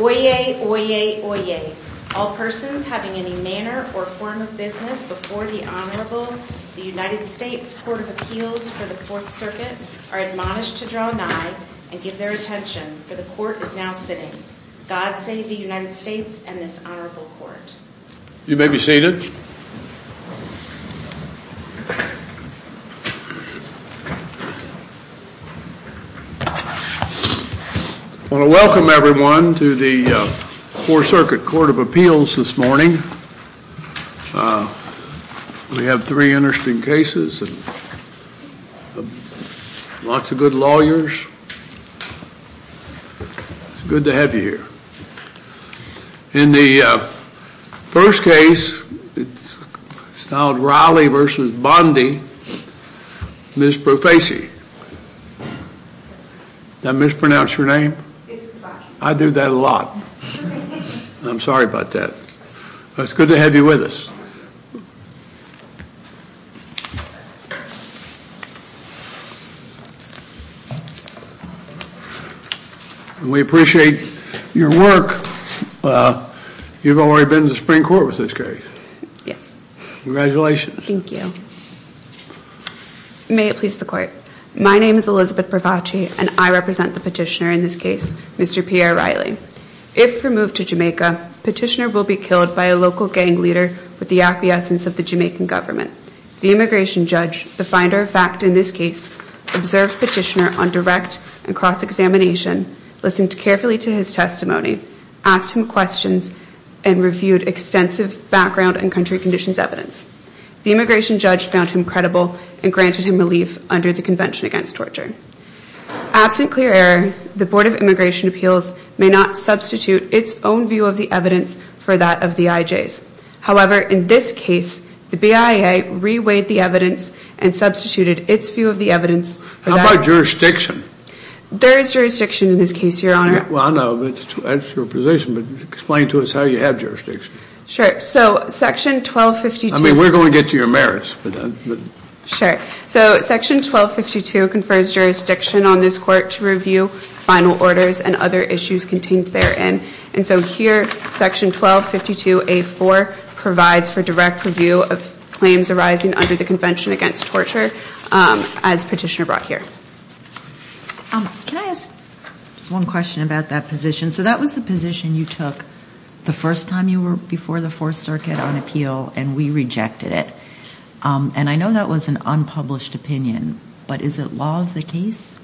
Oyez, Oyez, Oyez, all persons having any manner or form of business before the Honorable United States Court of Appeals for the Fourth Circuit are admonished to draw nigh and give their attention for the court is now sitting. God save the United States and this Honorable Court. You may be seated. I want to welcome everyone to the Fourth Circuit Court of Appeals this morning. We have three interesting cases and lots of good lawyers. It's good to have you here. In the first case, it's now Riley v. Bondi, Ms. Profese. Did I mispronounce her? It's good to have you with us. We appreciate your work. You've already been to the Supreme Court with this case. Yes. Congratulations. Thank you. May it please the Court. My name is Elizabeth Bravacci and I represent the petitioner in this case, Mr. Pierre Riley. If removed to Jamaica, petitioner will be killed by a local gang leader with the acquiescence of the Jamaican government. The immigration judge, the finder of fact in this case, observed petitioner on direct and cross-examination, listened carefully to his testimony, asked him questions and reviewed extensive background and country conditions evidence. The immigration judge found him credible and granted him relief under the Convention Against Torture. Absent clear error, the Board of Immigration Appeals may not substitute its own view of the evidence for that of the IJs. However, in this case, the BIA reweighed the evidence and substituted its view of the evidence. How about jurisdiction? There is jurisdiction in this case, Your Honor. Well, I know that's your position, but explain to us how you have jurisdiction. Sure. So, section 1252. I mean, we're going to get to your merits. Sure. So, section 1252 confers jurisdiction on this court to review final orders and other issues contained therein. And so here, section 1252A4 provides for direct review of claims arising under the Convention Against Torture, as petitioner brought here. Can I ask one question about that position? So that was the position you took the first time you were before the Fourth Circuit on appeal and we rejected it. And I know that was an unpublished opinion, but is it law of the case?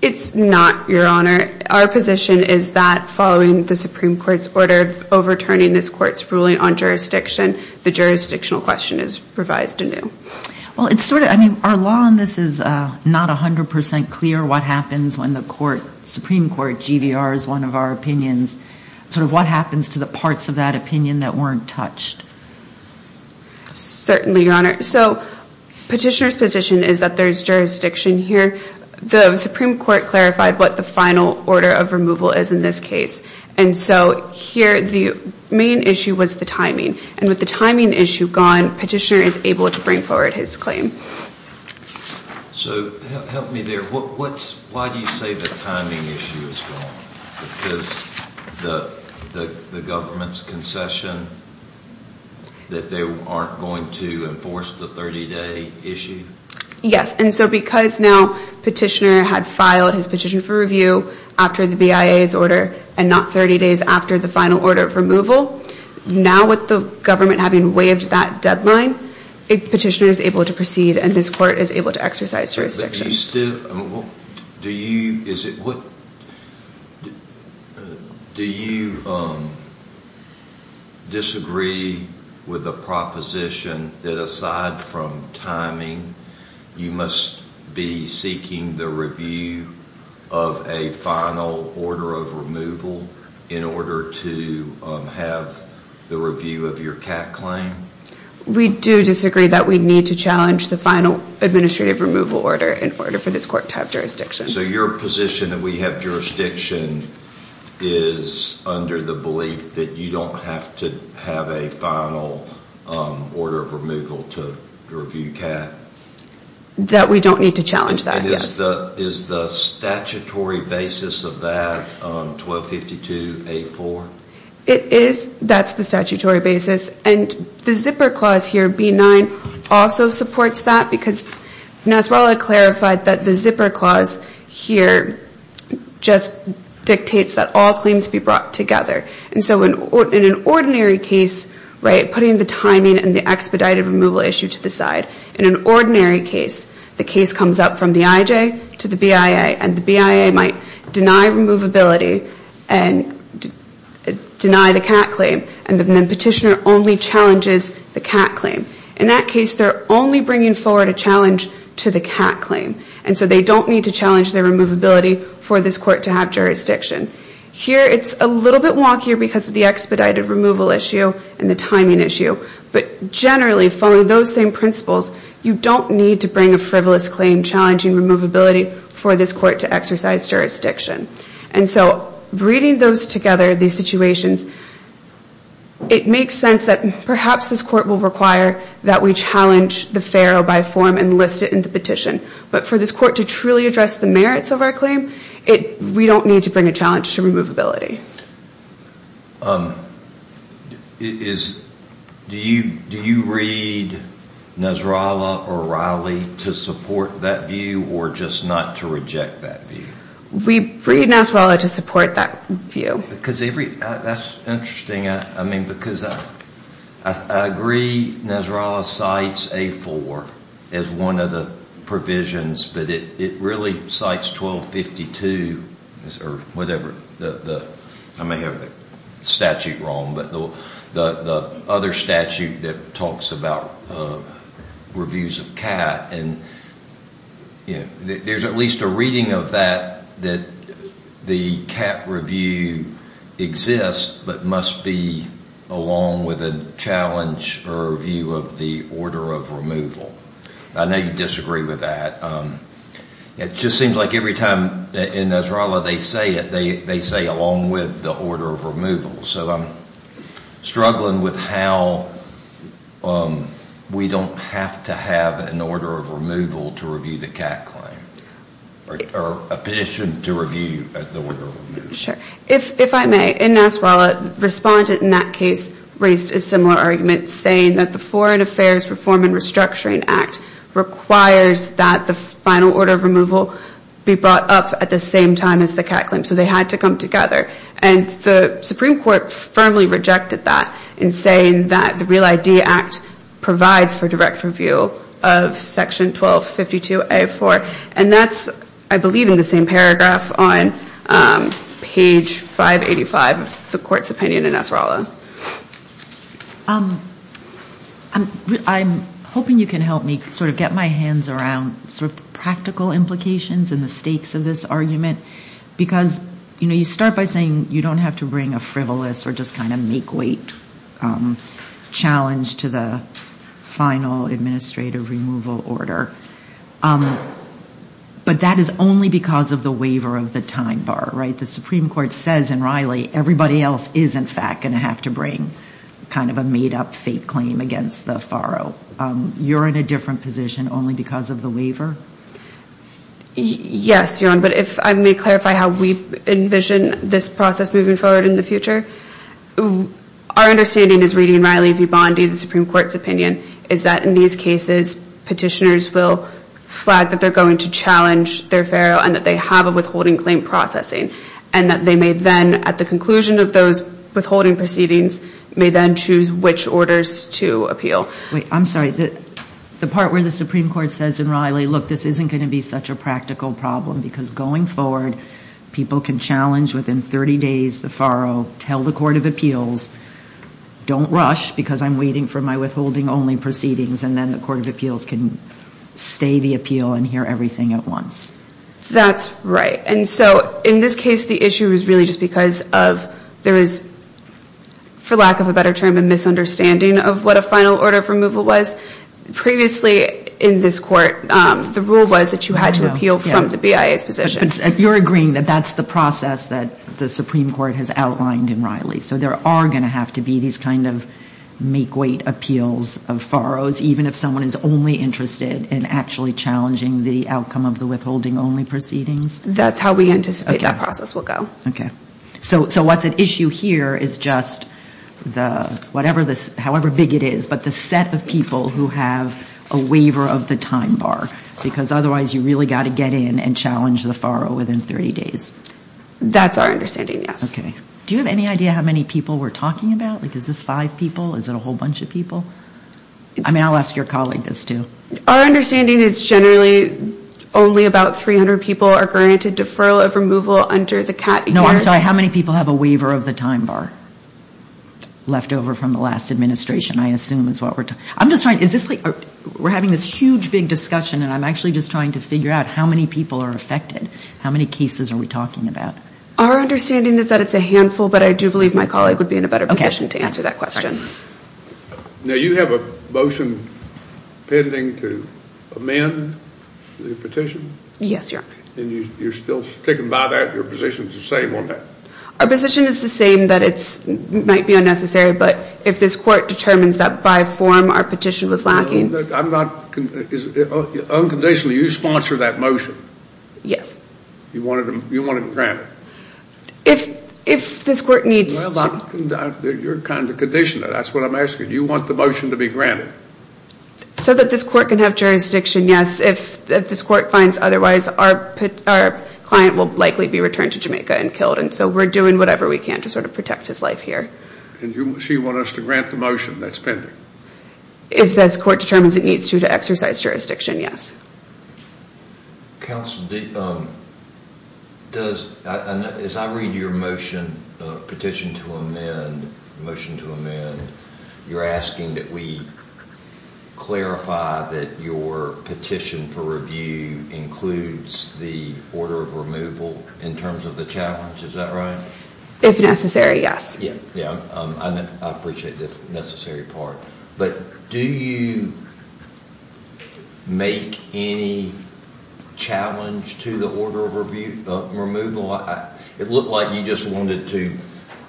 It's not, Your Honor. Our position is that following the Supreme Court's order overturning this court's ruling on jurisdiction, the jurisdictional question is revised anew. Well, it's sort of, I mean, our law on this is not 100% clear what happens when the Supreme Court, GVR is one of our opinions, sort of what happens to the parts of that opinion that weren't touched. Certainly, Your Honor. So, petitioner's position is that there's jurisdiction here. The Supreme Court clarified what the final order of removal is in this case. And so here, the main issue was the timing. And with the timing issue gone, petitioner is able to bring forward his claim. So, help me there. Why do you say the timing issue is gone? Because the government's concession that they aren't going to enforce the 30-day issue? Yes. And so because now petitioner had filed his petition for review after the BIA's order and not 30 days after the final order of removal, now with the government having waived that deadline, petitioner is able to proceed and this court is able to exercise jurisdiction. Do you disagree with the proposition that aside from timing, you must be seeking the review of a final order of removal in order to have the review of your CAT claim? We do disagree that we need to challenge the final administrative removal order in order for this court to have jurisdiction. So, your position that we have jurisdiction is under the belief that you don't have to have a final order of removal to review CAT? That we don't need to challenge that, yes. Is the statutory basis of that 1252A4? It is. That's the statutory basis. And the zipper clause here, B9, also supports that because Nasrallah clarified that the zipper clause here just dictates that all claims be brought together. And so in an ordinary case, right, putting the timing and the expedited removal issue to the side, in an ordinary case, the case comes up from the IJ to the BIA and the BIA might deny removability and deny the CAT claim and the petitioner only challenges the CAT claim. In that case, they're only bringing forward a challenge to the CAT claim. And so they don't need to challenge their removability for this court to have jurisdiction. Here, it's a little bit wonkier because of the expedited removal issue and the timing issue. But generally, following those same principles, you don't need to bring a frivolous claim challenging removability for this court to exercise jurisdiction. And so bringing those together, these situations, it makes sense that perhaps this court will require that we challenge the FARO by form and list it in the petition. But for this court to truly address the merits of our claim, we don't need to bring a challenge to removability. Do you read Nasrallah or Riley to support that view or just not to reject that view? We read Nasrallah to support that view. Because every, that's interesting. I mean, because I agree Nasrallah cites A4 as one of the provisions, but it really cites 1252 or whatever. I may have the statute wrong, but the other statute that talks about reviews of CAT. And there's at least a reading of that, that the CAT review exists but must be along with a challenge or review of the order of removal. I know you disagree with that. It just seems like every time in Nasrallah they say it, they say along with the order of removal. So I'm struggling with how we don't have to have an order of removal to review the CAT claim or a petition to review the order of removal. If I may, in Nasrallah, the respondent in that case raised a similar argument saying that the Foreign Affairs Reform and Restructuring Act requires that the final order of removal be brought up at the same time as the CAT claim. So they had to come together. And the Supreme Court firmly rejected that in saying that the Real ID Act provides for a direct review of section 1252A4. And that's, I believe, in the same paragraph on page 585 of the court's opinion in Nasrallah. I'm hoping you can help me sort of get my hands around sort of practical implications and the stakes of this argument. Because, you know, you start by saying you don't have to bring a frivolous or just kind of make-weight challenge to the final administrative removal order. But that is only because of the waiver of the time bar, right? The Supreme Court says in Riley everybody else is, in fact, going to have to bring kind of a made-up fake claim against the FARO. You're in a different position only because of the waiver? Yes, Your Honor. But if I may clarify how we envision this process moving forward in the future. Our understanding is reading Riley v. Bondi, the Supreme Court's opinion, is that in these cases petitioners will flag that they're going to challenge their FARO and that they have a withholding claim processing. And that they may then, at the conclusion of those withholding proceedings, may then choose which orders to appeal. Wait, I'm sorry. The part where the Supreme Court says in Riley, look, this isn't going to be such a practical problem because going forward people can challenge within 30 days the FARO, tell the Court of Appeals, don't rush because I'm waiting for my withholding-only proceedings, and then the Court of Appeals can stay the appeal and hear everything at once. That's right. And so in this case the issue is really just because of there is, for lack of a better term, a misunderstanding of what a final order of removal was, previously in this Court the rule was that you had to appeal from the BIA's position. You're agreeing that that's the process that the Supreme Court has outlined in Riley. So there are going to have to be these kind of make-weight appeals of FAROs, even if someone is only interested in actually challenging the outcome of the withholding-only proceedings? That's how we anticipate that process will go. Okay. So what's at issue here is just the, however big it is, but the set of people who have a waiver of the time bar. Because otherwise you really got to get in and challenge the FARO within 30 days. That's our understanding, yes. Okay. Do you have any idea how many people we're talking about? Is this five people? Is it a whole bunch of people? I mean, I'll ask your colleague this too. Our understanding is generally only about 300 people are granted deferral of removal under the CAC. No, I'm sorry. How many people have a waiver of the time bar? Leftover from the last administration, I assume is what we're talking about. I'm just trying, is this like, we're having this huge, big discussion and I'm actually just trying to figure out how many people are affected. How many cases are we talking about? Our understanding is that it's a handful, but I do believe my colleague would be in a better position to answer that question. Now, you have a motion pending to amend the petition? Yes, Your Honor. And you're still sticking by that? Your position's the same on that? Our position is the same that it might be unnecessary, but if this court determines that by form our petition was lacking... No, I'm not, unconditionally, you sponsor that motion? Yes. You want it granted? If this court needs... You're kind of conditioning it, that's what I'm asking. You want the motion to be granted? So that this court can have jurisdiction, yes. If this court finds otherwise, our client will likely be returned to Jamaica and killed. And so we're doing whatever we can to sort of protect his life here. And you want us to grant the motion that's pending? If this court determines it needs to to exercise jurisdiction, yes. Counsel, as I read your motion, petition to amend, you're asking that we clarify that your petition for review includes the order of removal in terms of the challenge, is that right? If necessary, yes. I appreciate the necessary part, but do you make any challenge to the order of removal? It looked like you just wanted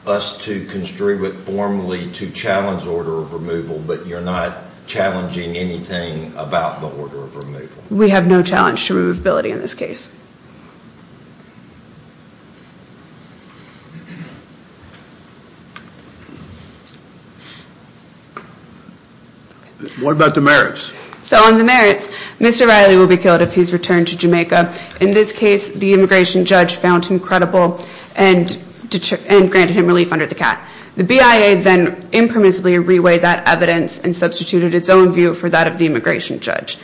us to construe it formally to challenge order of removal, but you're not challenging anything about the order of removal? We have no challenge to removability in this case. What about the merits? So on the merits, Mr. Riley will be killed if he's returned to Jamaica. In this case, the immigration judge found him credible and granted him relief under the CAT. The BIA then impermissibly reweighed that evidence and substituted its own view for that of the immigration judge.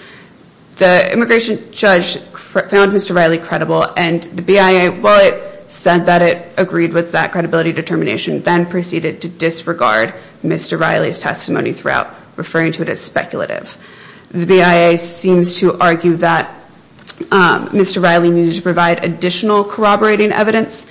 The immigration judge found Mr. Riley credible and the BIA, while it said that it agreed with that credibility determination, then reweighed that evidence. The BIA then proceeded to disregard Mr. Riley's testimony throughout, referring to it as speculative. The BIA seems to argue that Mr. Riley needed to provide additional corroborating evidence,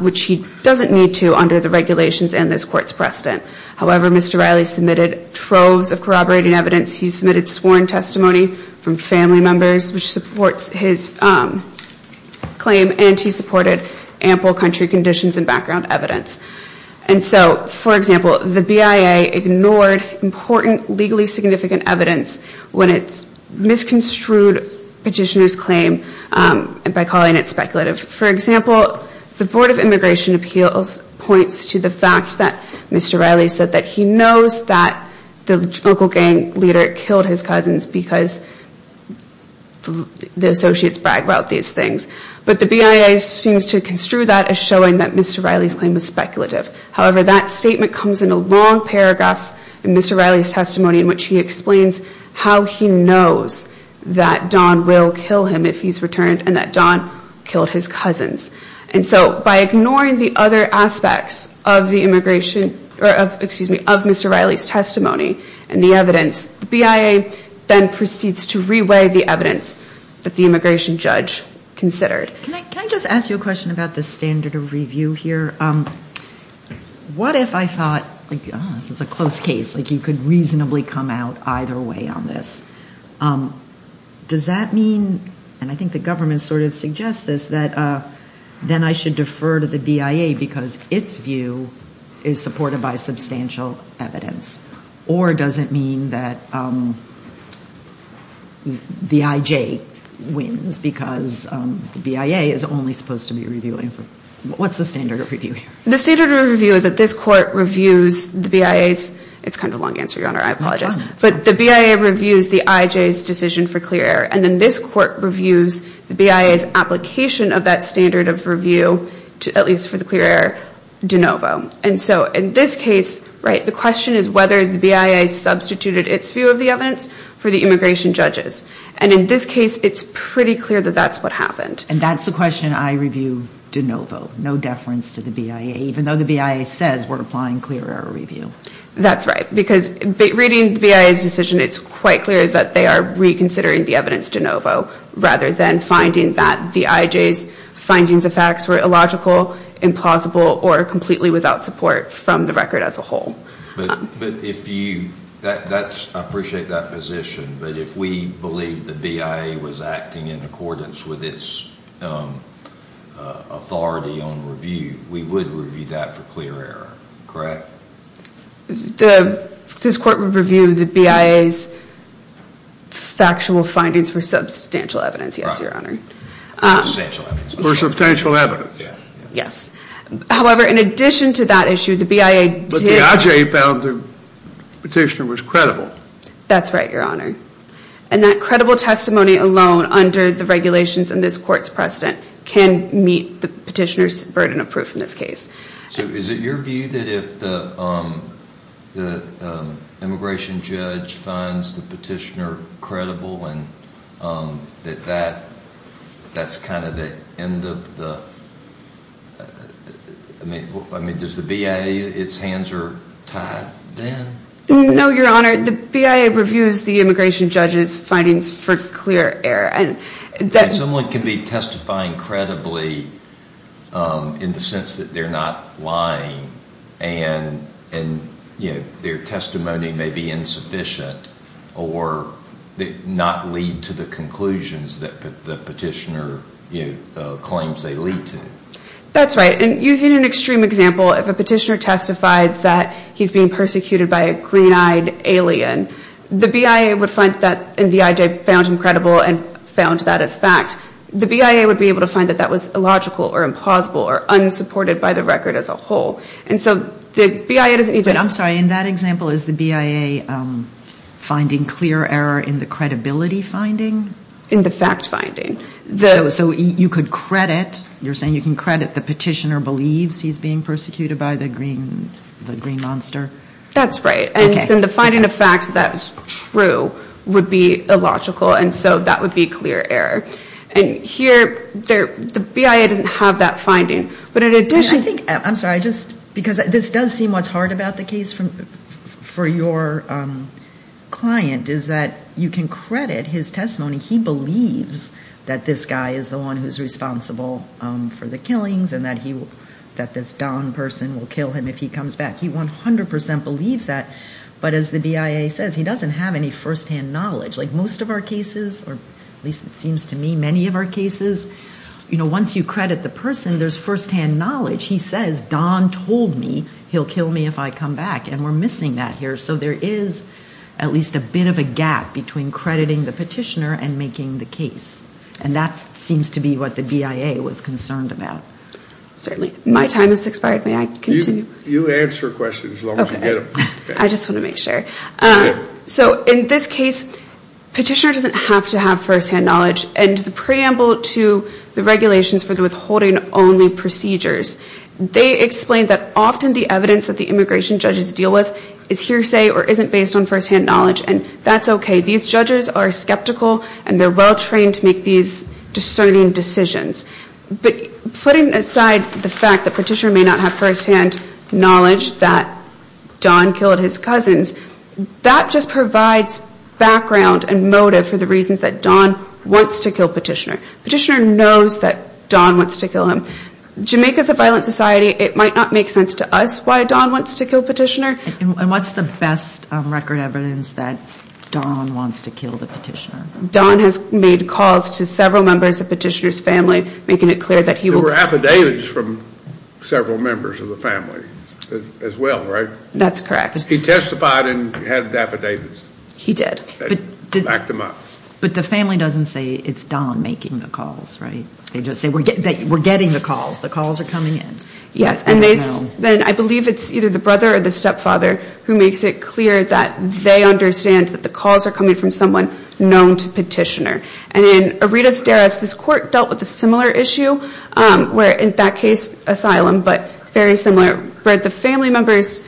which he doesn't need to under the regulations and this court's precedent. However, Mr. Riley submitted troves of corroborating evidence. He submitted sworn testimony from family members, which supports his claim, and he supported ample country conditions and background evidence. And so, for example, the BIA ignored important legally significant evidence when it misconstrued petitioner's claim by calling it speculative. For example, the Board of Immigration Appeals points to the fact that Mr. Riley said that he knows that the local gang leader killed his cousins because the associates bragged about these things. But the BIA seems to construe that as showing that Mr. Riley's claim was speculative. However, that statement comes in a long paragraph in Mr. Riley's testimony in which he explains how he knows that Don will kill him if he's returned and that Don killed his cousins. And so, by ignoring the other aspects of the immigration, or excuse me, of Mr. Riley's testimony and the evidence, the BIA then proceeds to reweigh the evidence that the immigration judge considered. Can I just ask you a question about the standard of review here? What if I thought, oh, this is a close case, like you could reasonably come out either way on this? Does that mean, and I think the government sort of suggests this, that then I should defer to the BIA because its view is supported by substantial evidence? Or does it mean that the IJ wins because the BIA is only supposed to be reviewing? What's the standard of review here? The standard of review is that this court reviews the BIA's, it's kind of a long answer, Your Honor, I apologize, but the BIA reviews the IJ's decision for clear error. And then this court reviews the BIA's application of that standard of review, at least for the clear error, de novo. And so, in this case, right, the question is whether the BIA substituted its view of the evidence for the immigration judges. And in this case, it's pretty clear that that's what happened. And that's the question I review de novo, no deference to the BIA, even though the BIA says we're applying clear error review. That's right, because reading the BIA's decision, it's quite clear that they are reconsidering the evidence de novo, rather than finding that the IJ's findings of facts were illogical, implausible, or completely without support from the record as a whole. But if you, that's, I appreciate that position, but if we believe the BIA was acting in accordance with its authority on review, we would review that for clear error, correct? The, this court would review the BIA's factual findings for substantial evidence, yes, your honor. For substantial evidence? Yes. However, in addition to that issue, the BIA did... But the IJ found the petitioner was credible. That's right, your honor. And that credible testimony alone, under the regulations and this court's precedent, can meet the petitioner's burden of proof in this case. So is it your view that if the immigration judge finds the petitioner credible, and that that's kind of the end of the, I mean, does the BIA, its hands are tied then? No, your honor. The BIA reviews the immigration judge's findings for clear error, and that... Someone can be testifying credibly in the sense that they're not lying and, you know, their testimony may be insufficient or not lead to the conclusions that the petitioner, you know, claims they lead to. That's right. And using an extreme example, if a petitioner testified that he's being persecuted by a green-eyed alien, the BIA would find that, and the IJ found him credible and found that as the BIA would be able to find that that was illogical or impossible or unsupported by the record as a whole. And so the BIA doesn't even... I'm sorry, in that example, is the BIA finding clear error in the credibility finding? In the fact finding. So you could credit, you're saying you can credit the petitioner believes he's being persecuted by the green monster? That's right. And then the finding of fact that's true would be illogical. And so that would be clear error. And here, the BIA doesn't have that finding. But in addition... I think, I'm sorry, I just, because this does seem what's hard about the case for your client is that you can credit his testimony. He believes that this guy is the one who's responsible for the killings and that this Don person will kill him if he comes back. He 100% believes that. But as the BIA says, he doesn't have any firsthand knowledge. Like our cases, or at least it seems to me, many of our cases, once you credit the person, there's firsthand knowledge. He says, Don told me he'll kill me if I come back. And we're missing that here. So there is at least a bit of a gap between crediting the petitioner and making the case. And that seems to be what the BIA was concerned about. Certainly. My time has expired. May I continue? You answer questions as long as you get them. I just want to make sure. So in this case, petitioner doesn't have to have firsthand knowledge. And the preamble to the regulations for the withholding only procedures, they explain that often the evidence that the immigration judges deal with is hearsay or isn't based on firsthand knowledge. And that's okay. These judges are skeptical and they're well-trained to make these discerning decisions. But putting aside the fact that petitioner may not have firsthand knowledge that Don killed his cousins, that just provides background and motive for the reasons that Don wants to kill petitioner. Petitioner knows that Don wants to kill him. Jamaica is a violent society. It might not make sense to us why Don wants to kill petitioner. And what's the best record evidence that Don wants to kill the petitioner? Don has made calls to several members of petitioner's family, making it clear that were affidavits from several members of the family as well, right? That's correct. He testified and had affidavits. He did. But the family doesn't say it's Don making the calls, right? They just say we're getting the calls. The calls are coming in. Yes. And then I believe it's either the brother or the stepfather who makes it clear that they understand that the calls are coming from someone known to petitioner. And in Aredas Deris, this court dealt with a similar issue, where in that case, asylum, but very similar, where the family members'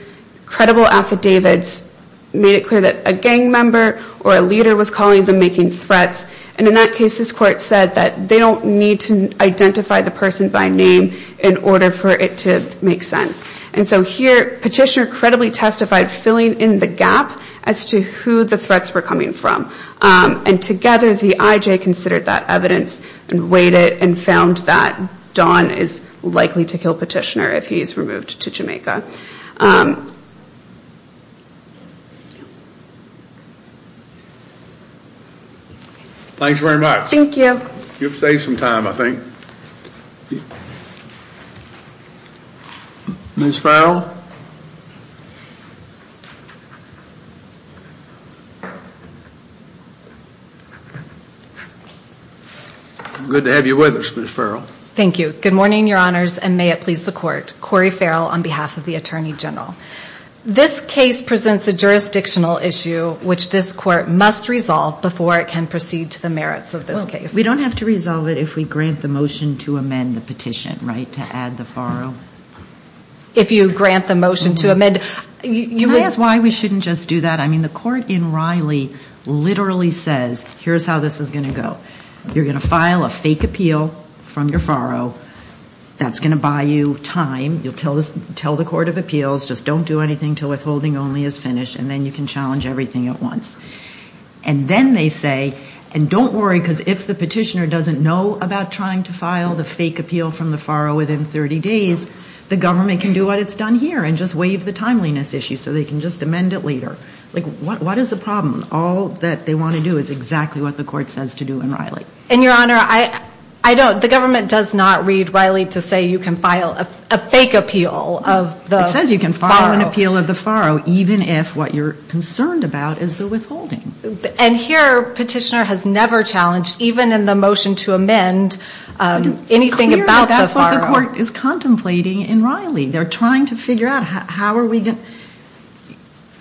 credible affidavits made it clear that a gang member or a leader was calling them making threats. And in that case, this court said that they don't need to identify the person by name in order for it to make sense. And so here, petitioner credibly testified, filling in the gap as to who the threats were from. And together, the IJ considered that evidence and weighed it and found that Don is likely to kill petitioner if he is removed to Jamaica. Thanks very much. Thank you. You've saved some time, I think. Ms. Fowle? I'm good to have you with us, Ms. Fowle. Thank you. Good morning, Your Honors, and may it please the court. Cori Fowle on behalf of the Attorney General. This case presents a jurisdictional issue which this court must resolve before it can proceed to the merits of this case. We don't have to resolve it if we grant the motion to amend the petition, right, to add the Fowle? If you grant the motion to amend. Can I ask why we shouldn't just do that? I mean, the court in Riley literally says, here's how this is going to go. You're going to file a fake appeal from your farrow. That's going to buy you time. You'll tell the court of appeals, just don't do anything until withholding only is finished, and then you can challenge everything at once. And then they say, and don't worry, because if the petitioner doesn't know about trying to file the fake appeal from the farrow within 30 days, the government can do what it's done here and just waive the timeliness issue so they can just amend it later. Like, what is the problem? All that they want to do is exactly what the court says to do in Riley. And, Your Honor, I don't, the government does not read Riley to say you can file a fake appeal of the farrow. It says you can file an appeal of the farrow even if what you're concerned about is the withholding. And here, petitioner has never challenged, even in the motion to amend, anything about the farrow. The court is contemplating in Riley. They're trying to figure out how are we going,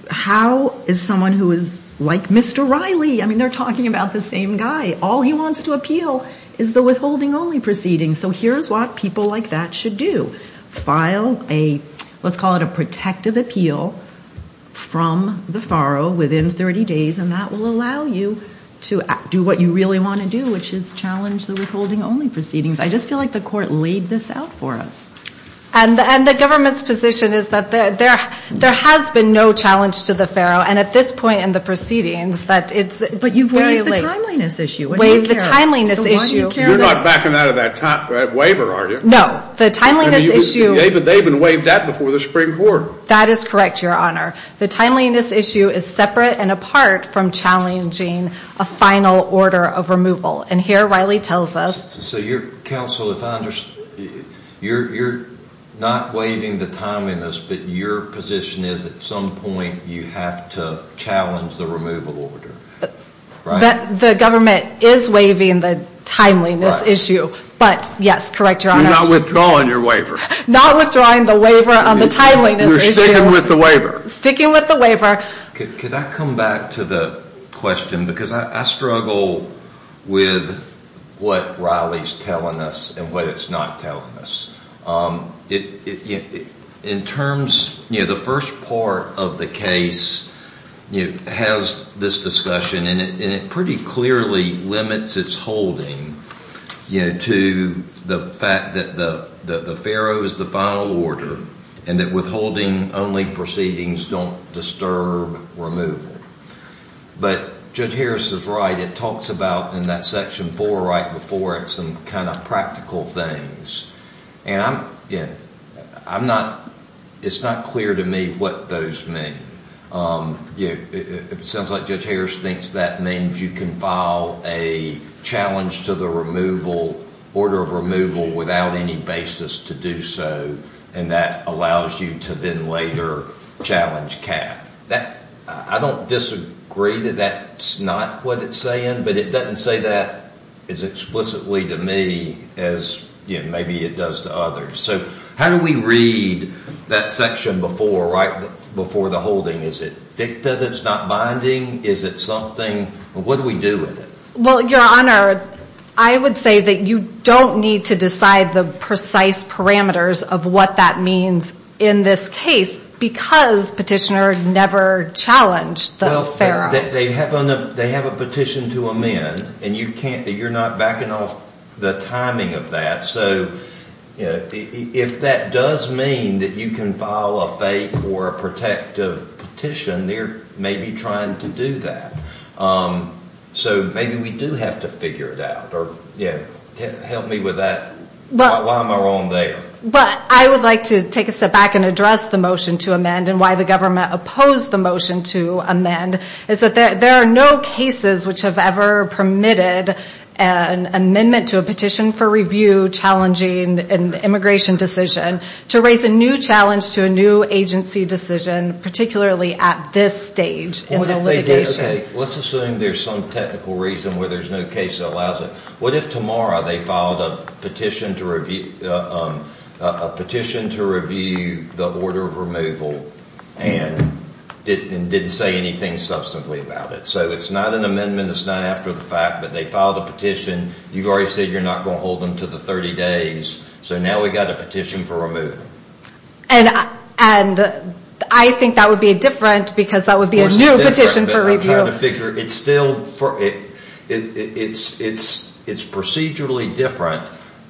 how is someone who is like Mr. Riley, I mean, they're talking about the same guy, all he wants to appeal is the withholding only proceeding. So here's what people like that should do. File a, let's call it a protective appeal from the farrow within 30 days, and that will allow you to do what you really want to do, which is challenge the withholding only proceedings. I just feel like the court laid this out for us. And the government's position is that there has been no challenge to the farrow, and at this point in the proceedings that it's very late. But you've waived the timeliness issue. Waived the timeliness issue. You're not backing out of that waiver, are you? No, the timeliness issue. They even waived that before the Supreme Court. That is correct, Your Honor. The timeliness issue is separate and apart from challenging a final order of removal. And here Riley tells us. So your counsel, if I understand, you're not waiving the timeliness, but your position is at some point you have to challenge the removal order, right? The government is waiving the timeliness issue. But yes, correct, Your Honor. You're not withdrawing your waiver. Not withdrawing the waiver on the timeliness issue. You're sticking with the waiver. Sticking with the waiver. Could I come back to the question? Because I struggle with what Riley's telling us and what it's not telling us. In terms, the first part of the case has this discussion, and it pretty clearly limits its holding to the fact that the farrow is the final order and that withholding only proceedings don't disturb removal. But Judge Harris is right. It talks about, in that section four right before it, some kind of practical things. And I'm, yeah, I'm not, it's not clear to me what those mean. It sounds like Judge Harris thinks that means you can file a challenge to the removal, order of removal, without any basis to do so. And that allows you to then later challenge cap. I don't disagree that that's not what it's saying, but it doesn't say that as explicitly to me as maybe it does to others. So how do we read that section before, right before the holding? Is it dicta that's not binding? Is it something, what do we do with it? Well, Your Honor, I would say that you don't need to decide the precise parameters of what that means in this case because Petitioner never challenged the farrow. They have a petition to amend and you can't, you're not backing off the timing of that. So if that does mean that you can file a fake or a protective petition, they're maybe trying to do that. So maybe we do have to figure it out or, yeah, help me with that. Why am I wrong there? I would like to take a step back and address the motion to amend and why the government opposed the motion to amend is that there are no cases which have ever permitted an amendment to a petition for review challenging an immigration decision to raise a new challenge to a new agency decision, particularly at this stage in the litigation. Let's assume there's some technical reason where there's no case that allows it. What if tomorrow they filed a petition to review the order of removal and didn't say anything substantively about it? So it's not an amendment, it's not after the fact, but they filed a petition, you've already said you're not going to hold them to the 30 days, so now we've got a petition for removal. And I think that would be different because that would be a new petition for review. I'm trying to figure, it's still, it's procedurally different,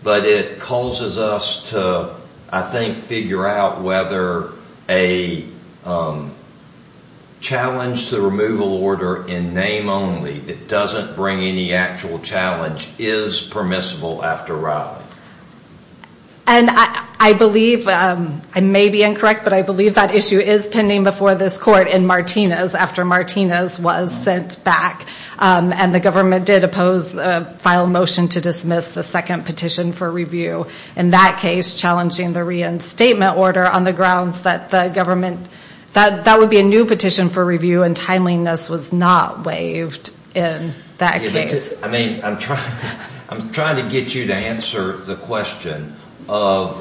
but it causes us to, I think, figure out whether a challenge to the removal order in name only that doesn't bring any actual challenge is permissible after Riley. And I believe, I may be incorrect, but I believe that issue is pending before this court in Martinez after Martinez was sent back and the government did oppose the final motion to dismiss the second petition for review. In that case, challenging the reinstatement order on the grounds that the government, that would be a new petition for review and timeliness was not waived in that case. I mean, I'm trying to get you to answer the question of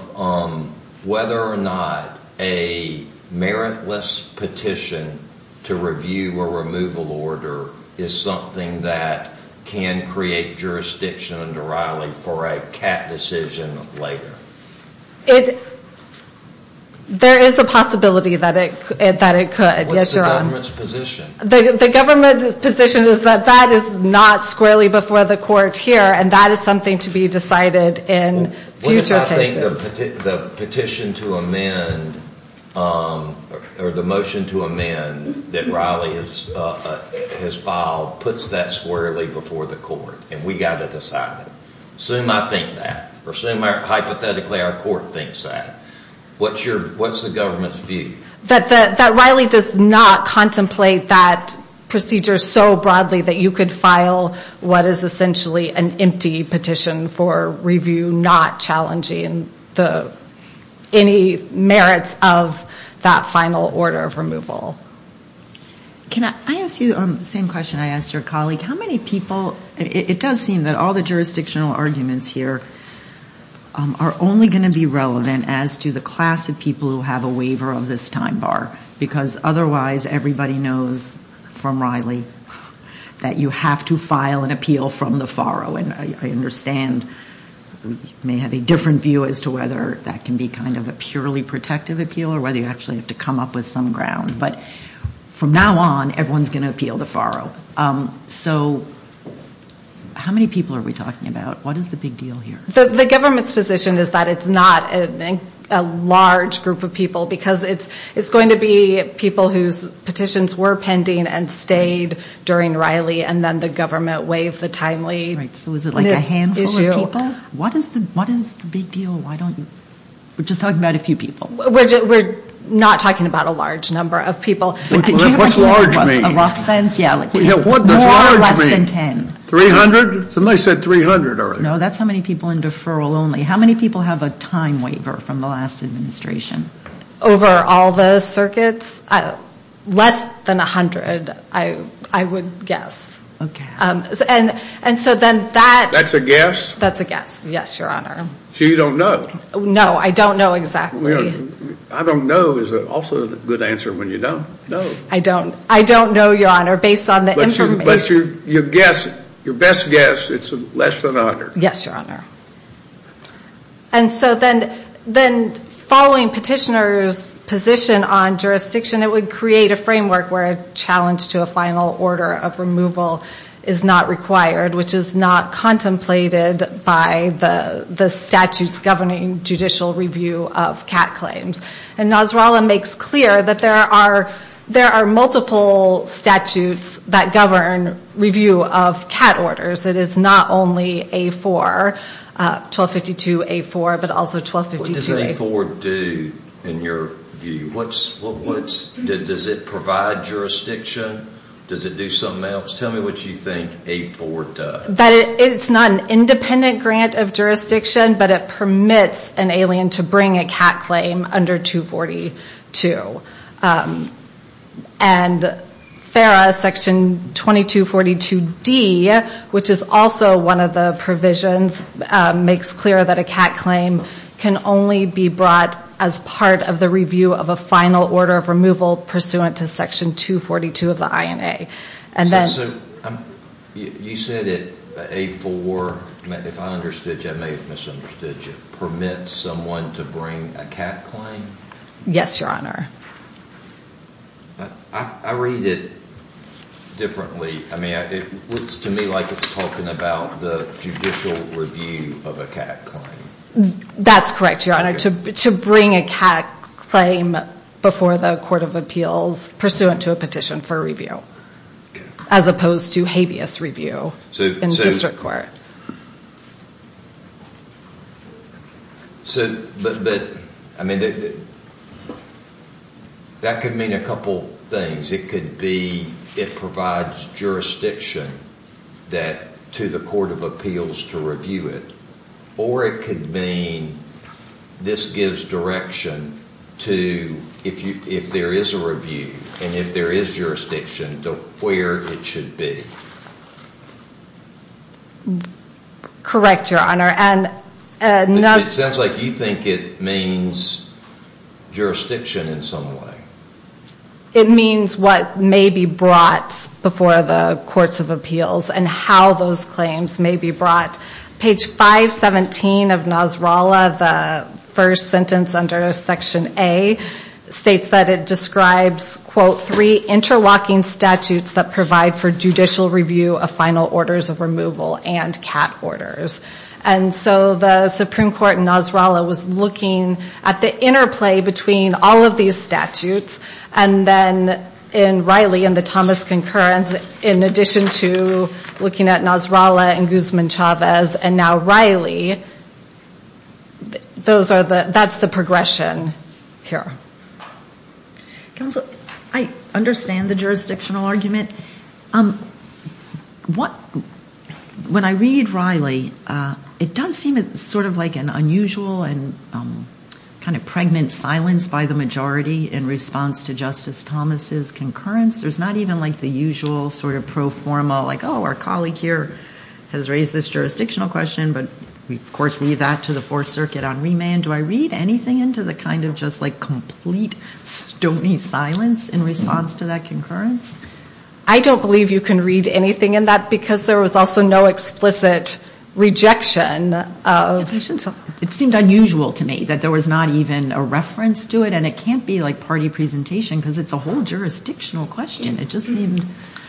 whether or not a meritless petition to review a removal order is something that can create jurisdiction under Riley for a cap decision later. There is a possibility that it could. What's the government's position? The government's position is that that is not squarely before the court here and that is something to be decided in future cases. The petition to amend or the motion to amend that Riley has filed puts that squarely before the court and we've got to decide it. Assume I think that or assume hypothetically our court thinks that. What's the government's view? That Riley does not contemplate that procedure so broadly that you could file what is essentially an empty petition for review, not challenging any merits of that final order of removal. Can I ask you the same question I asked your colleague? How many people, it does seem that all the jurisdictional arguments here are only going to be relevant as to the class of people who have a waiver of this time bar because otherwise everybody knows from Riley that you have to file an appeal from the faro. And I understand you may have a different view as to whether that can be kind of a purely protective appeal or whether you actually have to come up with some ground. But from now on, everyone's going to appeal the faro. So how many people are we talking about? What is the big deal here? The government's position is that it's not a large group of people because it's going to be people whose petitions were pending and stayed during Riley and then the government waived the timely issue. Right. So is it like a handful of people? What is the big deal? Why don't you? We're just talking about a few people. We're not talking about a large number of people. What's large mean? A rough sense? Yeah, like more or less than 10. 300? Somebody said 300 already. No, that's how many people in deferral only. How many people have a time waiver from the last administration? Over all the circuits? Less than 100, I would guess. And so then that... That's a guess? That's a guess. Yes, Your Honor. So you don't know? No, I don't know exactly. I don't know is also a good answer when you don't know. I don't know, Your Honor, based on the information. But your guess, your best guess, it's less than 100. Yes, Your Honor. And so then following petitioner's position on jurisdiction, it would create a framework where a challenge to a final order of removal is not required, which is not contemplated by the statutes governing judicial review of cat claims. And Nasrallah makes clear that there are multiple statutes that govern review of cat orders. It is not only A4. 1252-A4, but also 1252-A- What does A4 do in your view? Does it provide jurisdiction? Does it do something else? Tell me what you think A4 does. That it's not an independent grant of jurisdiction, but it permits an alien to bring a cat claim under 242. And FARA section 2242-D, which is also one of the provisions, makes clear that a cat claim can only be brought as part of the review of a final order of removal pursuant to section 242 of the INA. And then- So you said that A4, if I understood you, I may have misunderstood you, permits someone to bring a cat claim? Yes, Your Honor. I read it differently. I mean, it looks to me like it's talking about the judicial review of a cat claim. That's correct, Your Honor. To bring a cat claim before the court of appeals pursuant to a petition for review, as opposed to habeas review in district court. But I mean, that could mean a couple things. It could be it provides jurisdiction to the court of appeals to review it. Or it could mean this gives direction to, if there is a review, and if there is jurisdiction, to where it should be. Correct, Your Honor. It sounds like you think it means jurisdiction in some way. It means what may be brought before the courts of appeals, and how those claims may be brought. Page 517 of NASRALA, the first sentence under section A, states that it describes, quote, interlocking statutes that provide for judicial review of final orders of removal and cat orders. And so the Supreme Court in NASRALA was looking at the interplay between all of these statutes. And then in Riley and the Thomas concurrence, in addition to looking at NASRALA and Guzman-Chavez and now Riley, that's the progression here. Counsel, I understand the jurisdictional argument. When I read Riley, it does seem sort of like an unusual and kind of pregnant silence by the majority in response to Justice Thomas's concurrence. There's not even like the usual sort of pro forma, like, oh, our colleague here has raised this jurisdictional question, but we, of course, leave that to the Fourth Circuit on remand. Do I read anything into the kind of just like complete, stony silence in response to that concurrence? I don't believe you can read anything in that, because there was also no explicit rejection. It seemed unusual to me that there was not even a reference to it. And it can't be like party presentation, because it's a whole jurisdictional question. It just seemed,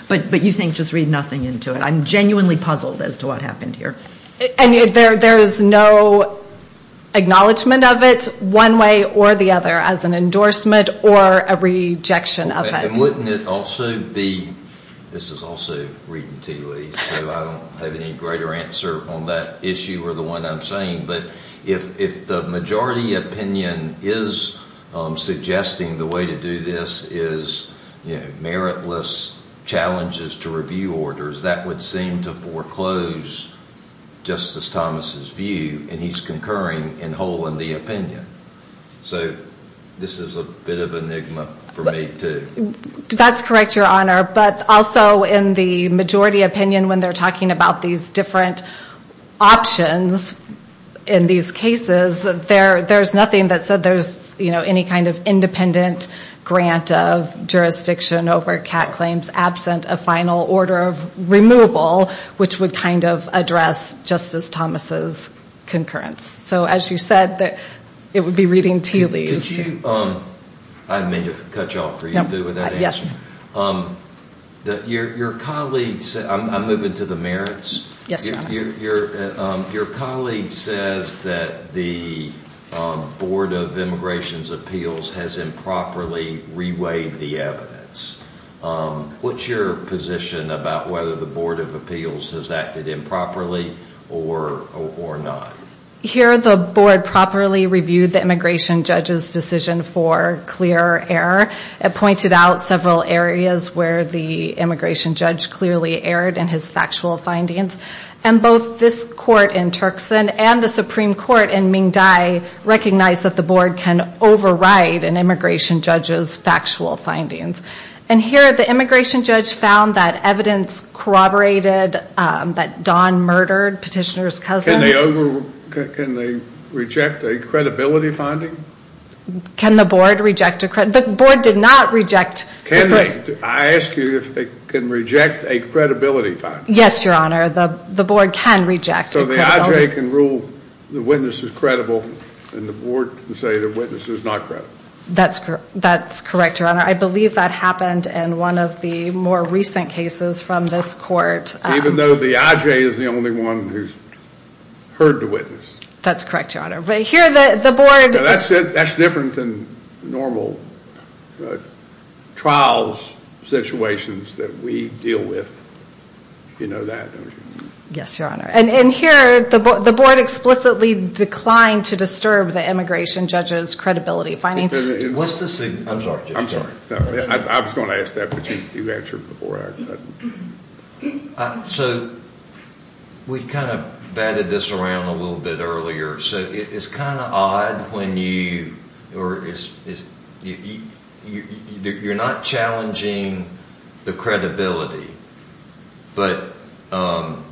but you think just read nothing into it. I'm genuinely puzzled as to what happened here. And there is no acknowledgement of it, one way or the other, as an endorsement or a rejection of it. And wouldn't it also be, this is also reading T. Lee, so I don't have any greater answer on that issue or the one I'm saying, but if the majority opinion is suggesting the way to do this is, you know, meritless challenges to review orders, that would seem to foreclose Justice Thomas's view, and he's concurring in whole in the opinion. So this is a bit of an enigma for me too. That's correct, Your Honor. But also in the majority opinion, when they're talking about these different options in these cases, there's nothing that said there's, you know, any kind of independent grant of jurisdiction over CAT claims absent a final order of removal, which would kind of address Justice Thomas's concurrence. So as you said, it would be reading T. Lee. Could you, I may have cut you off, or you're good with that answer. Yes. Your colleagues, I'm moving to the merits. Yes, Your Honor. Your colleague says that the Board of Immigration's appeals has improperly reweighed the evidence. What's your position about whether the Board of Appeals has acted improperly or not? Here, the Board properly reviewed the immigration judge's decision for clear error. It pointed out several areas where the immigration judge clearly erred in his factual findings. And both this court in Turkson and the Supreme Court in Mingdi recognize that the Board can override an immigration judge's factual findings. And here, the immigration judge found that evidence corroborated that Don murdered petitioner's cousins. Can they reject a credibility finding? Can the Board reject a credibility finding? The Board did not reject. Can they? I ask you if they can reject a credibility finding. Yes, Your Honor. The Board can reject a credibility finding. So the iJ can rule the witness is credible, and the Board can say the witness is not credible. That's correct, Your Honor. I believe that happened in one of the more recent cases from this court. Even though the iJ is the only one who's heard the witness. That's correct, Your Honor. But here, the Board... No, that's different than normal trials situations that we deal with. You know that, don't you? Yes, Your Honor. And here, the Board explicitly declined to disturb the immigration judge's credibility finding. What's the... I'm sorry, Jay. I was going to ask that, but you answered before I... So we kind of batted this around a little bit earlier. So it's kind of odd when you... You're not challenging the credibility, but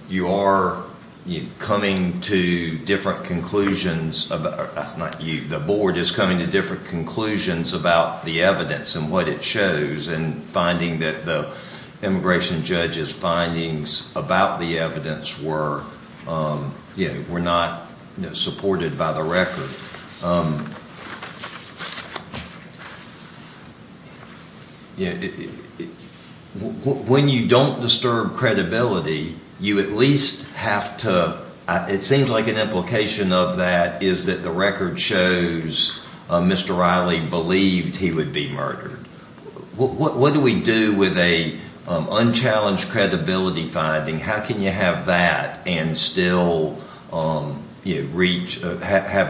you are coming to different conclusions about... That's not you. The Board is coming to different conclusions about the evidence and what it shows, and finding that the immigration judge's findings about the evidence were not supported by the record. When you don't disturb credibility, you at least have to... It seems like an implication of that is that the record shows Mr. Riley believed he would be murdered. What do we do with an unchallenged credibility finding? How can you have that and still have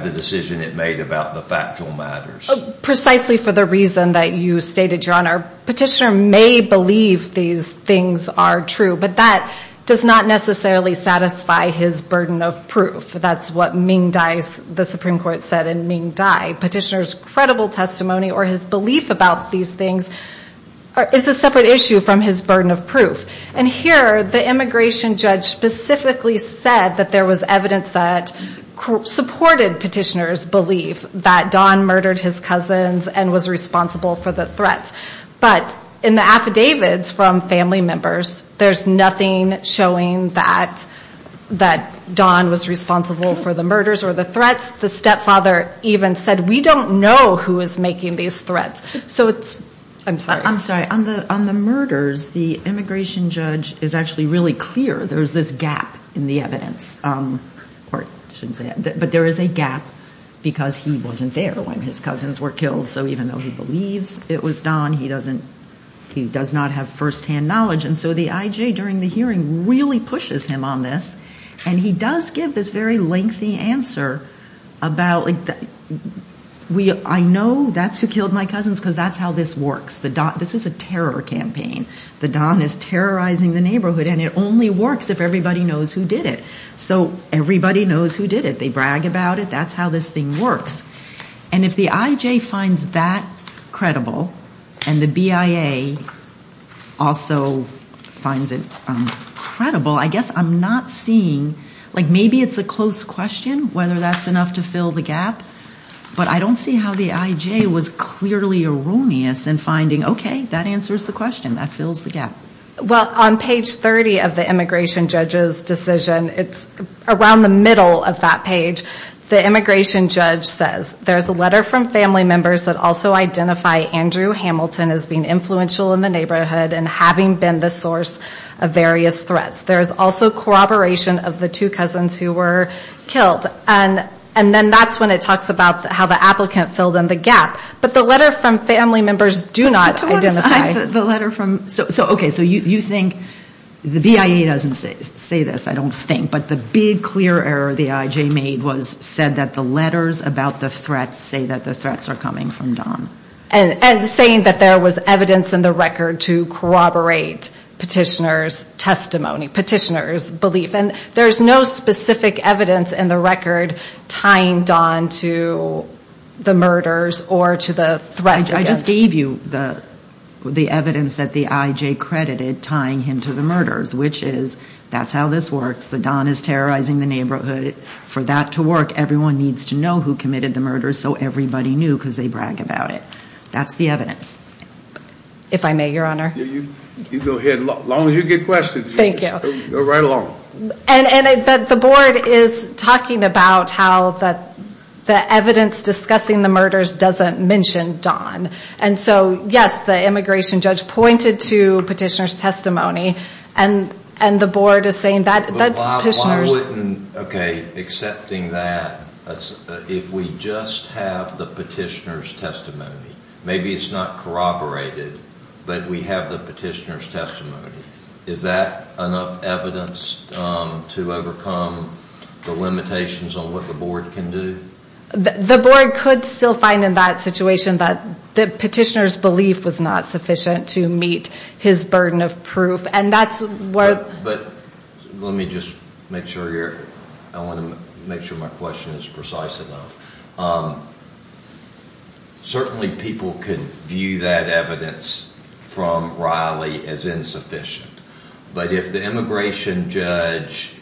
the decision it made about the factual matters? Precisely for the reason that you stated, Your Honor. Petitioner may believe these things are true, but that does not necessarily satisfy his burden of proof. That's what Ming Dai, the Supreme Court, said in Ming Dai. Petitioner's credible testimony or his belief about these things is a separate issue from his burden of proof. And here, the immigration judge specifically said that there was evidence that supported petitioner's belief that Don murdered his cousins and was responsible for the threats. But in the affidavits from family members, there's nothing showing that Don was responsible for the murders or the threats. The stepfather even said, we don't know who is making these threats. So it's... I'm sorry. I'm sorry. On the murders, the immigration judge is actually really clear. There's this gap in the evidence. But there is a gap because he wasn't there when his cousins were killed. So even though he believes it was Don, he does not have firsthand knowledge. And so the IJ during the hearing really pushes him on this. And he does give this very lengthy answer about, I know that's who killed my cousins because that's how this works. The Don, this is a terror campaign. The Don is terrorizing the neighborhood and it only works if everybody knows who did it. So everybody knows who did it. They brag about it. That's how this thing works. And if the IJ finds that credible and the BIA also finds it credible, I guess I'm not seeing... Like maybe it's a close question whether that's enough to fill the gap. But I don't see how the IJ was clearly erroneous in finding, okay, that answers the question. That fills the gap. Well, on page 30 of the immigration judge's decision, it's around the middle of that page. The immigration judge says, there's a letter from family members that also identify Andrew Hamilton as being influential in the neighborhood and having been the source of various threats. There is also corroboration of the two cousins who were killed. And then that's when it talks about how the applicant filled in the gap. But the letter from family members do not identify. To what extent the letter from... So, okay, so you think the BIA doesn't say this, I don't think. But the big clear error the IJ made was said that the letters about the threats say that the threats are coming from Don. And saying that there was evidence in the record to corroborate petitioner's testimony, petitioner's belief. And there's no specific evidence in the record tying Don to the murders or to the threats. I just gave you the evidence that the IJ credited tying him to the murders, which is, that's how this works. The Don is terrorizing the neighborhood. For that to work, everyone needs to know who committed the murders. So everybody knew because they brag about it. That's the evidence. If I may, your honor. Yeah, you go ahead. As long as you get questions. Thank you. Go right along. And the board is talking about how the evidence discussing the murders doesn't mention Don. And so, yes, the immigration judge pointed to petitioner's testimony. And the board is saying that's... Why wouldn't, okay, accepting that if we just have the petitioner's testimony, maybe it's not corroborated, but we have the petitioner's testimony. Is that enough evidence to overcome the limitations on what the board can do? The board could still find in that situation that the petitioner's belief was not sufficient to meet his burden of proof. And that's where... But let me just make sure you're... I want to make sure my question is precise enough. Certainly people could view that evidence from Riley as insufficient. But if the immigration judge...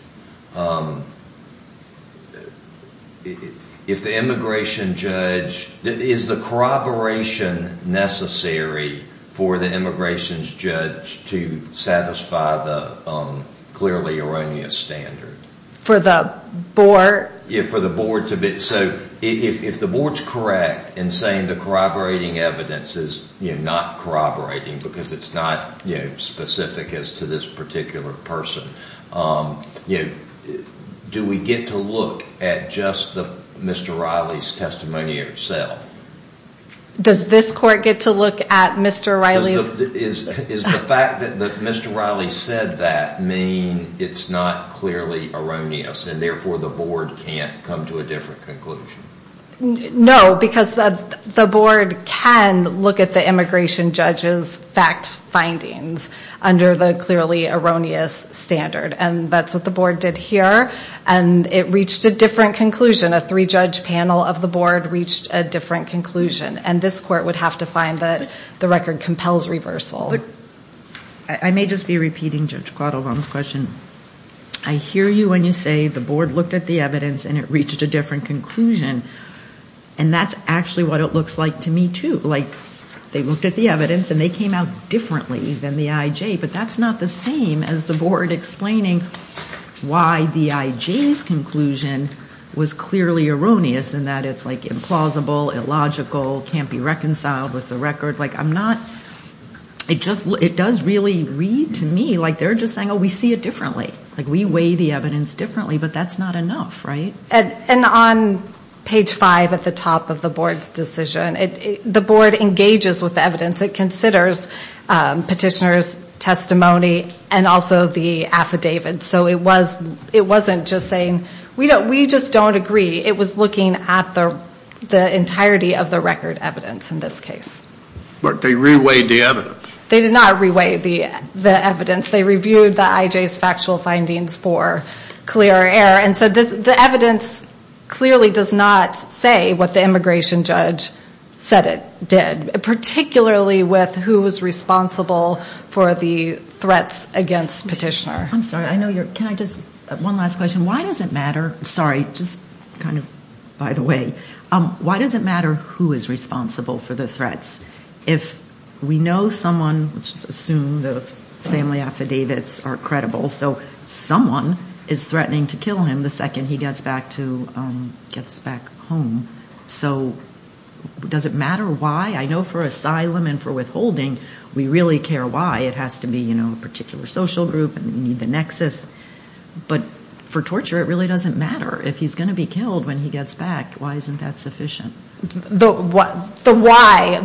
If the immigration judge... Is the corroboration necessary for the immigration's judge to satisfy the clearly erroneous standard? For the board? Yeah, for the board to be... So if the board's correct in saying the corroborating evidence is not corroborating because it's not specific as to this particular person, do we get to look at just Mr. Riley's testimony itself? Does this court get to look at Mr. Riley's? Does the fact that Mr. Riley said that it's not clearly erroneous and therefore the board can't come to a different conclusion? No, because the board can look at the immigration judge's fact findings under the clearly erroneous standard. And that's what the board did here. And it reached a different conclusion. A three-judge panel of the board reached a different conclusion. And this court would have to find that the record compels reversal. I may just be repeating, Judge Guadalupe, on this question. I hear you when you say the board looked at the evidence and it reached a different conclusion. And that's actually what it looks like to me, too. Like, they looked at the evidence and they came out differently than the IJ. But that's not the same as the board explaining why the IJ's conclusion was clearly erroneous in that it's implausible, illogical, can't be reconciled with the record. Like, I'm not... It does really read to me like they're just saying, oh, we see it differently. Like, we weigh the evidence differently, but that's not enough, right? And on page five at the top of the board's decision, the board engages with the evidence. It considers petitioner's testimony and also the affidavit. So it wasn't just saying, we just don't agree. It was looking at the entirety of the record evidence in this case. But they reweighed the evidence. They did not reweigh the evidence. They reviewed the IJ's factual findings for clear error. And so the evidence clearly does not say what the immigration judge said it did, particularly with who was responsible for the threats against petitioner. I'm sorry. I know you're... Can I just... One last question. Why does it matter? Sorry, just kind of by the way. Why does it matter who is responsible for the threats? If we know someone, let's just assume the family affidavits are credible. So someone is threatening to kill him the second he gets back home. So does it matter why? I know for asylum and for withholding, we really care why. It has to be a particular social group and you need the nexus. But for torture, it really doesn't matter. If he's going to be killed when he gets back, why isn't that sufficient? The why,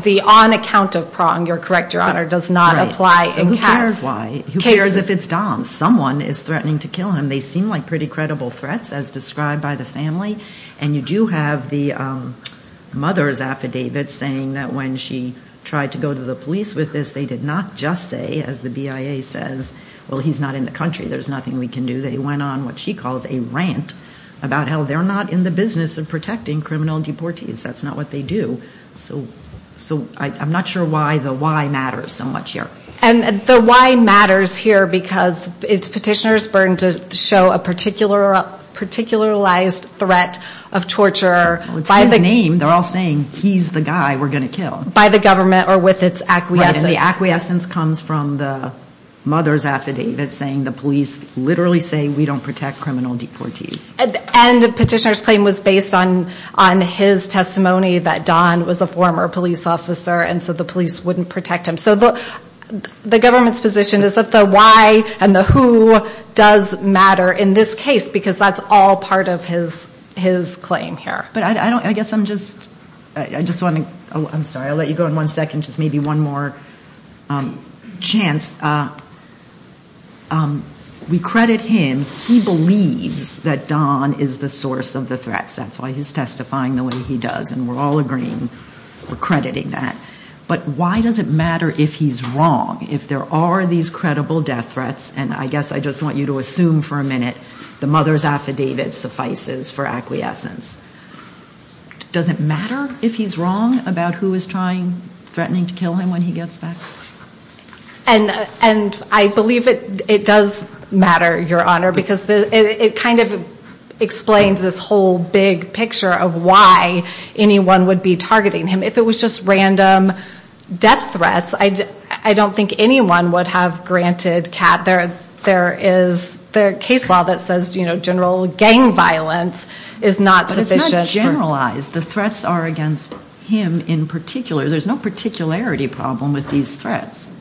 the on account of prong, you're correct, Your Honor, does not apply in... So who cares why? Who cares if it's Dom? Someone is threatening to kill him. They seem like pretty credible threats, as described by the family. And you do have the mother's affidavit saying that when she tried to go to the police with this, they did not just say, as the BIA says, well, he's not in the country. There's nothing we can do. They went on what she calls a rant about how they're not in the business of protecting criminal deportees. That's not what they do. So I'm not sure why the why matters. And the why matters here because it's petitioner's burden to show a particularized threat of torture by the... It's his name. They're all saying he's the guy we're going to kill. By the government or with its acquiescence. And the acquiescence comes from the mother's affidavit saying the police literally say we don't protect criminal deportees. And the petitioner's claim was based on his testimony that Dom was a former police officer. And so the police wouldn't protect him. So the government's position is that the why and the who does matter in this case because that's all part of his claim here. But I don't... I guess I'm just... I just want to... Oh, I'm sorry. I'll let you go in one second. Just maybe one more chance. We credit him. He believes that Dom is the source of the threats. That's why he's testifying the way he does. And we're all agreeing. We're crediting that. But why does it matter if he's wrong? If there are these credible death threats and I guess I just want you to assume for a minute the mother's affidavit suffices for acquiescence. Does it matter if he's wrong about who is trying, threatening to kill him when he gets back? And I believe it does matter, Your Honor, because it kind of explains this whole big picture of why anyone would be targeting him. If it was just random death threats, I don't think anyone would have granted Kat... There is the case law that says, you know, general gang violence is not sufficient. But it's not generalized. The threats are against him in particular. There's no particularity problem with these threats.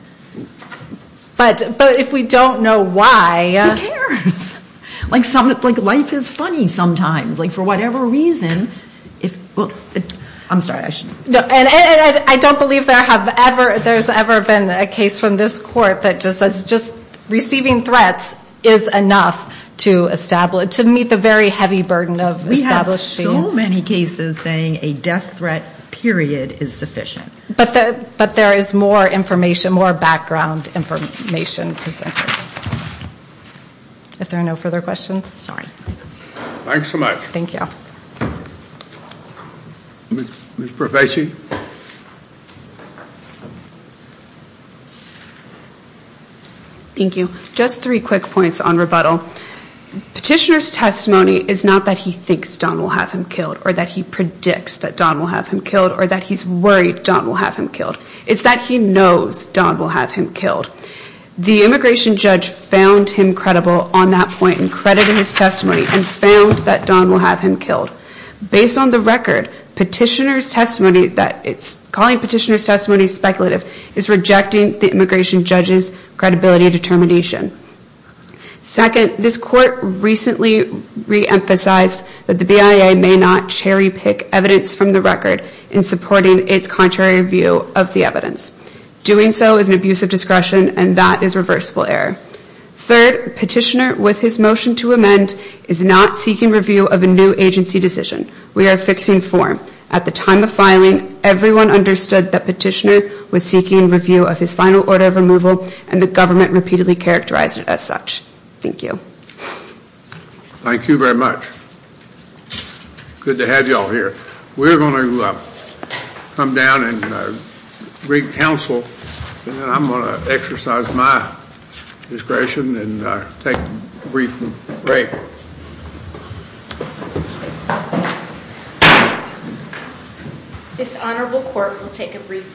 But if we don't know why... Who cares? Like some... Like life is funny sometimes. Like for whatever reason, if... Well, I'm sorry. I shouldn't... I don't believe there have ever... There's ever been a case from this court that just says just receiving threats is enough to establish... To meet the very heavy burden of establishing... We have so many cases saying a death threat period is sufficient. But there is more information, more background information presented. If there are no further questions, sorry. Thanks so much. Thank you. Ms. Prevaci. Thank you. Just three quick points on rebuttal. Petitioner's testimony is not that he thinks Don will have him killed or that he predicts that Don will have him killed or that he's worried Don will have him killed. It's that he knows Don will have him killed. The immigration judge found him credible on that point and credited his testimony and found that Don will have him killed. Based on the record, petitioner's testimony that... It's calling petitioner's testimony speculative is rejecting the immigration judge's credibility determination. Second, this court recently re-emphasized that the BIA may not cherry pick evidence from the record in supporting its contrary view of the evidence. Doing so is an abuse of discretion and that is reversible error. Third, petitioner with his motion to amend is not seeking review of a new agency decision. We are fixing form. At the time of filing, everyone understood that petitioner was seeking review of his final order of removal and the government repeatedly characterized it as such. Thank you. Thank you very much. Good to have you all here. We're going to come down and bring counsel and then I'm going to exercise my discretion and take a brief break. This honorable court will take a brief recess.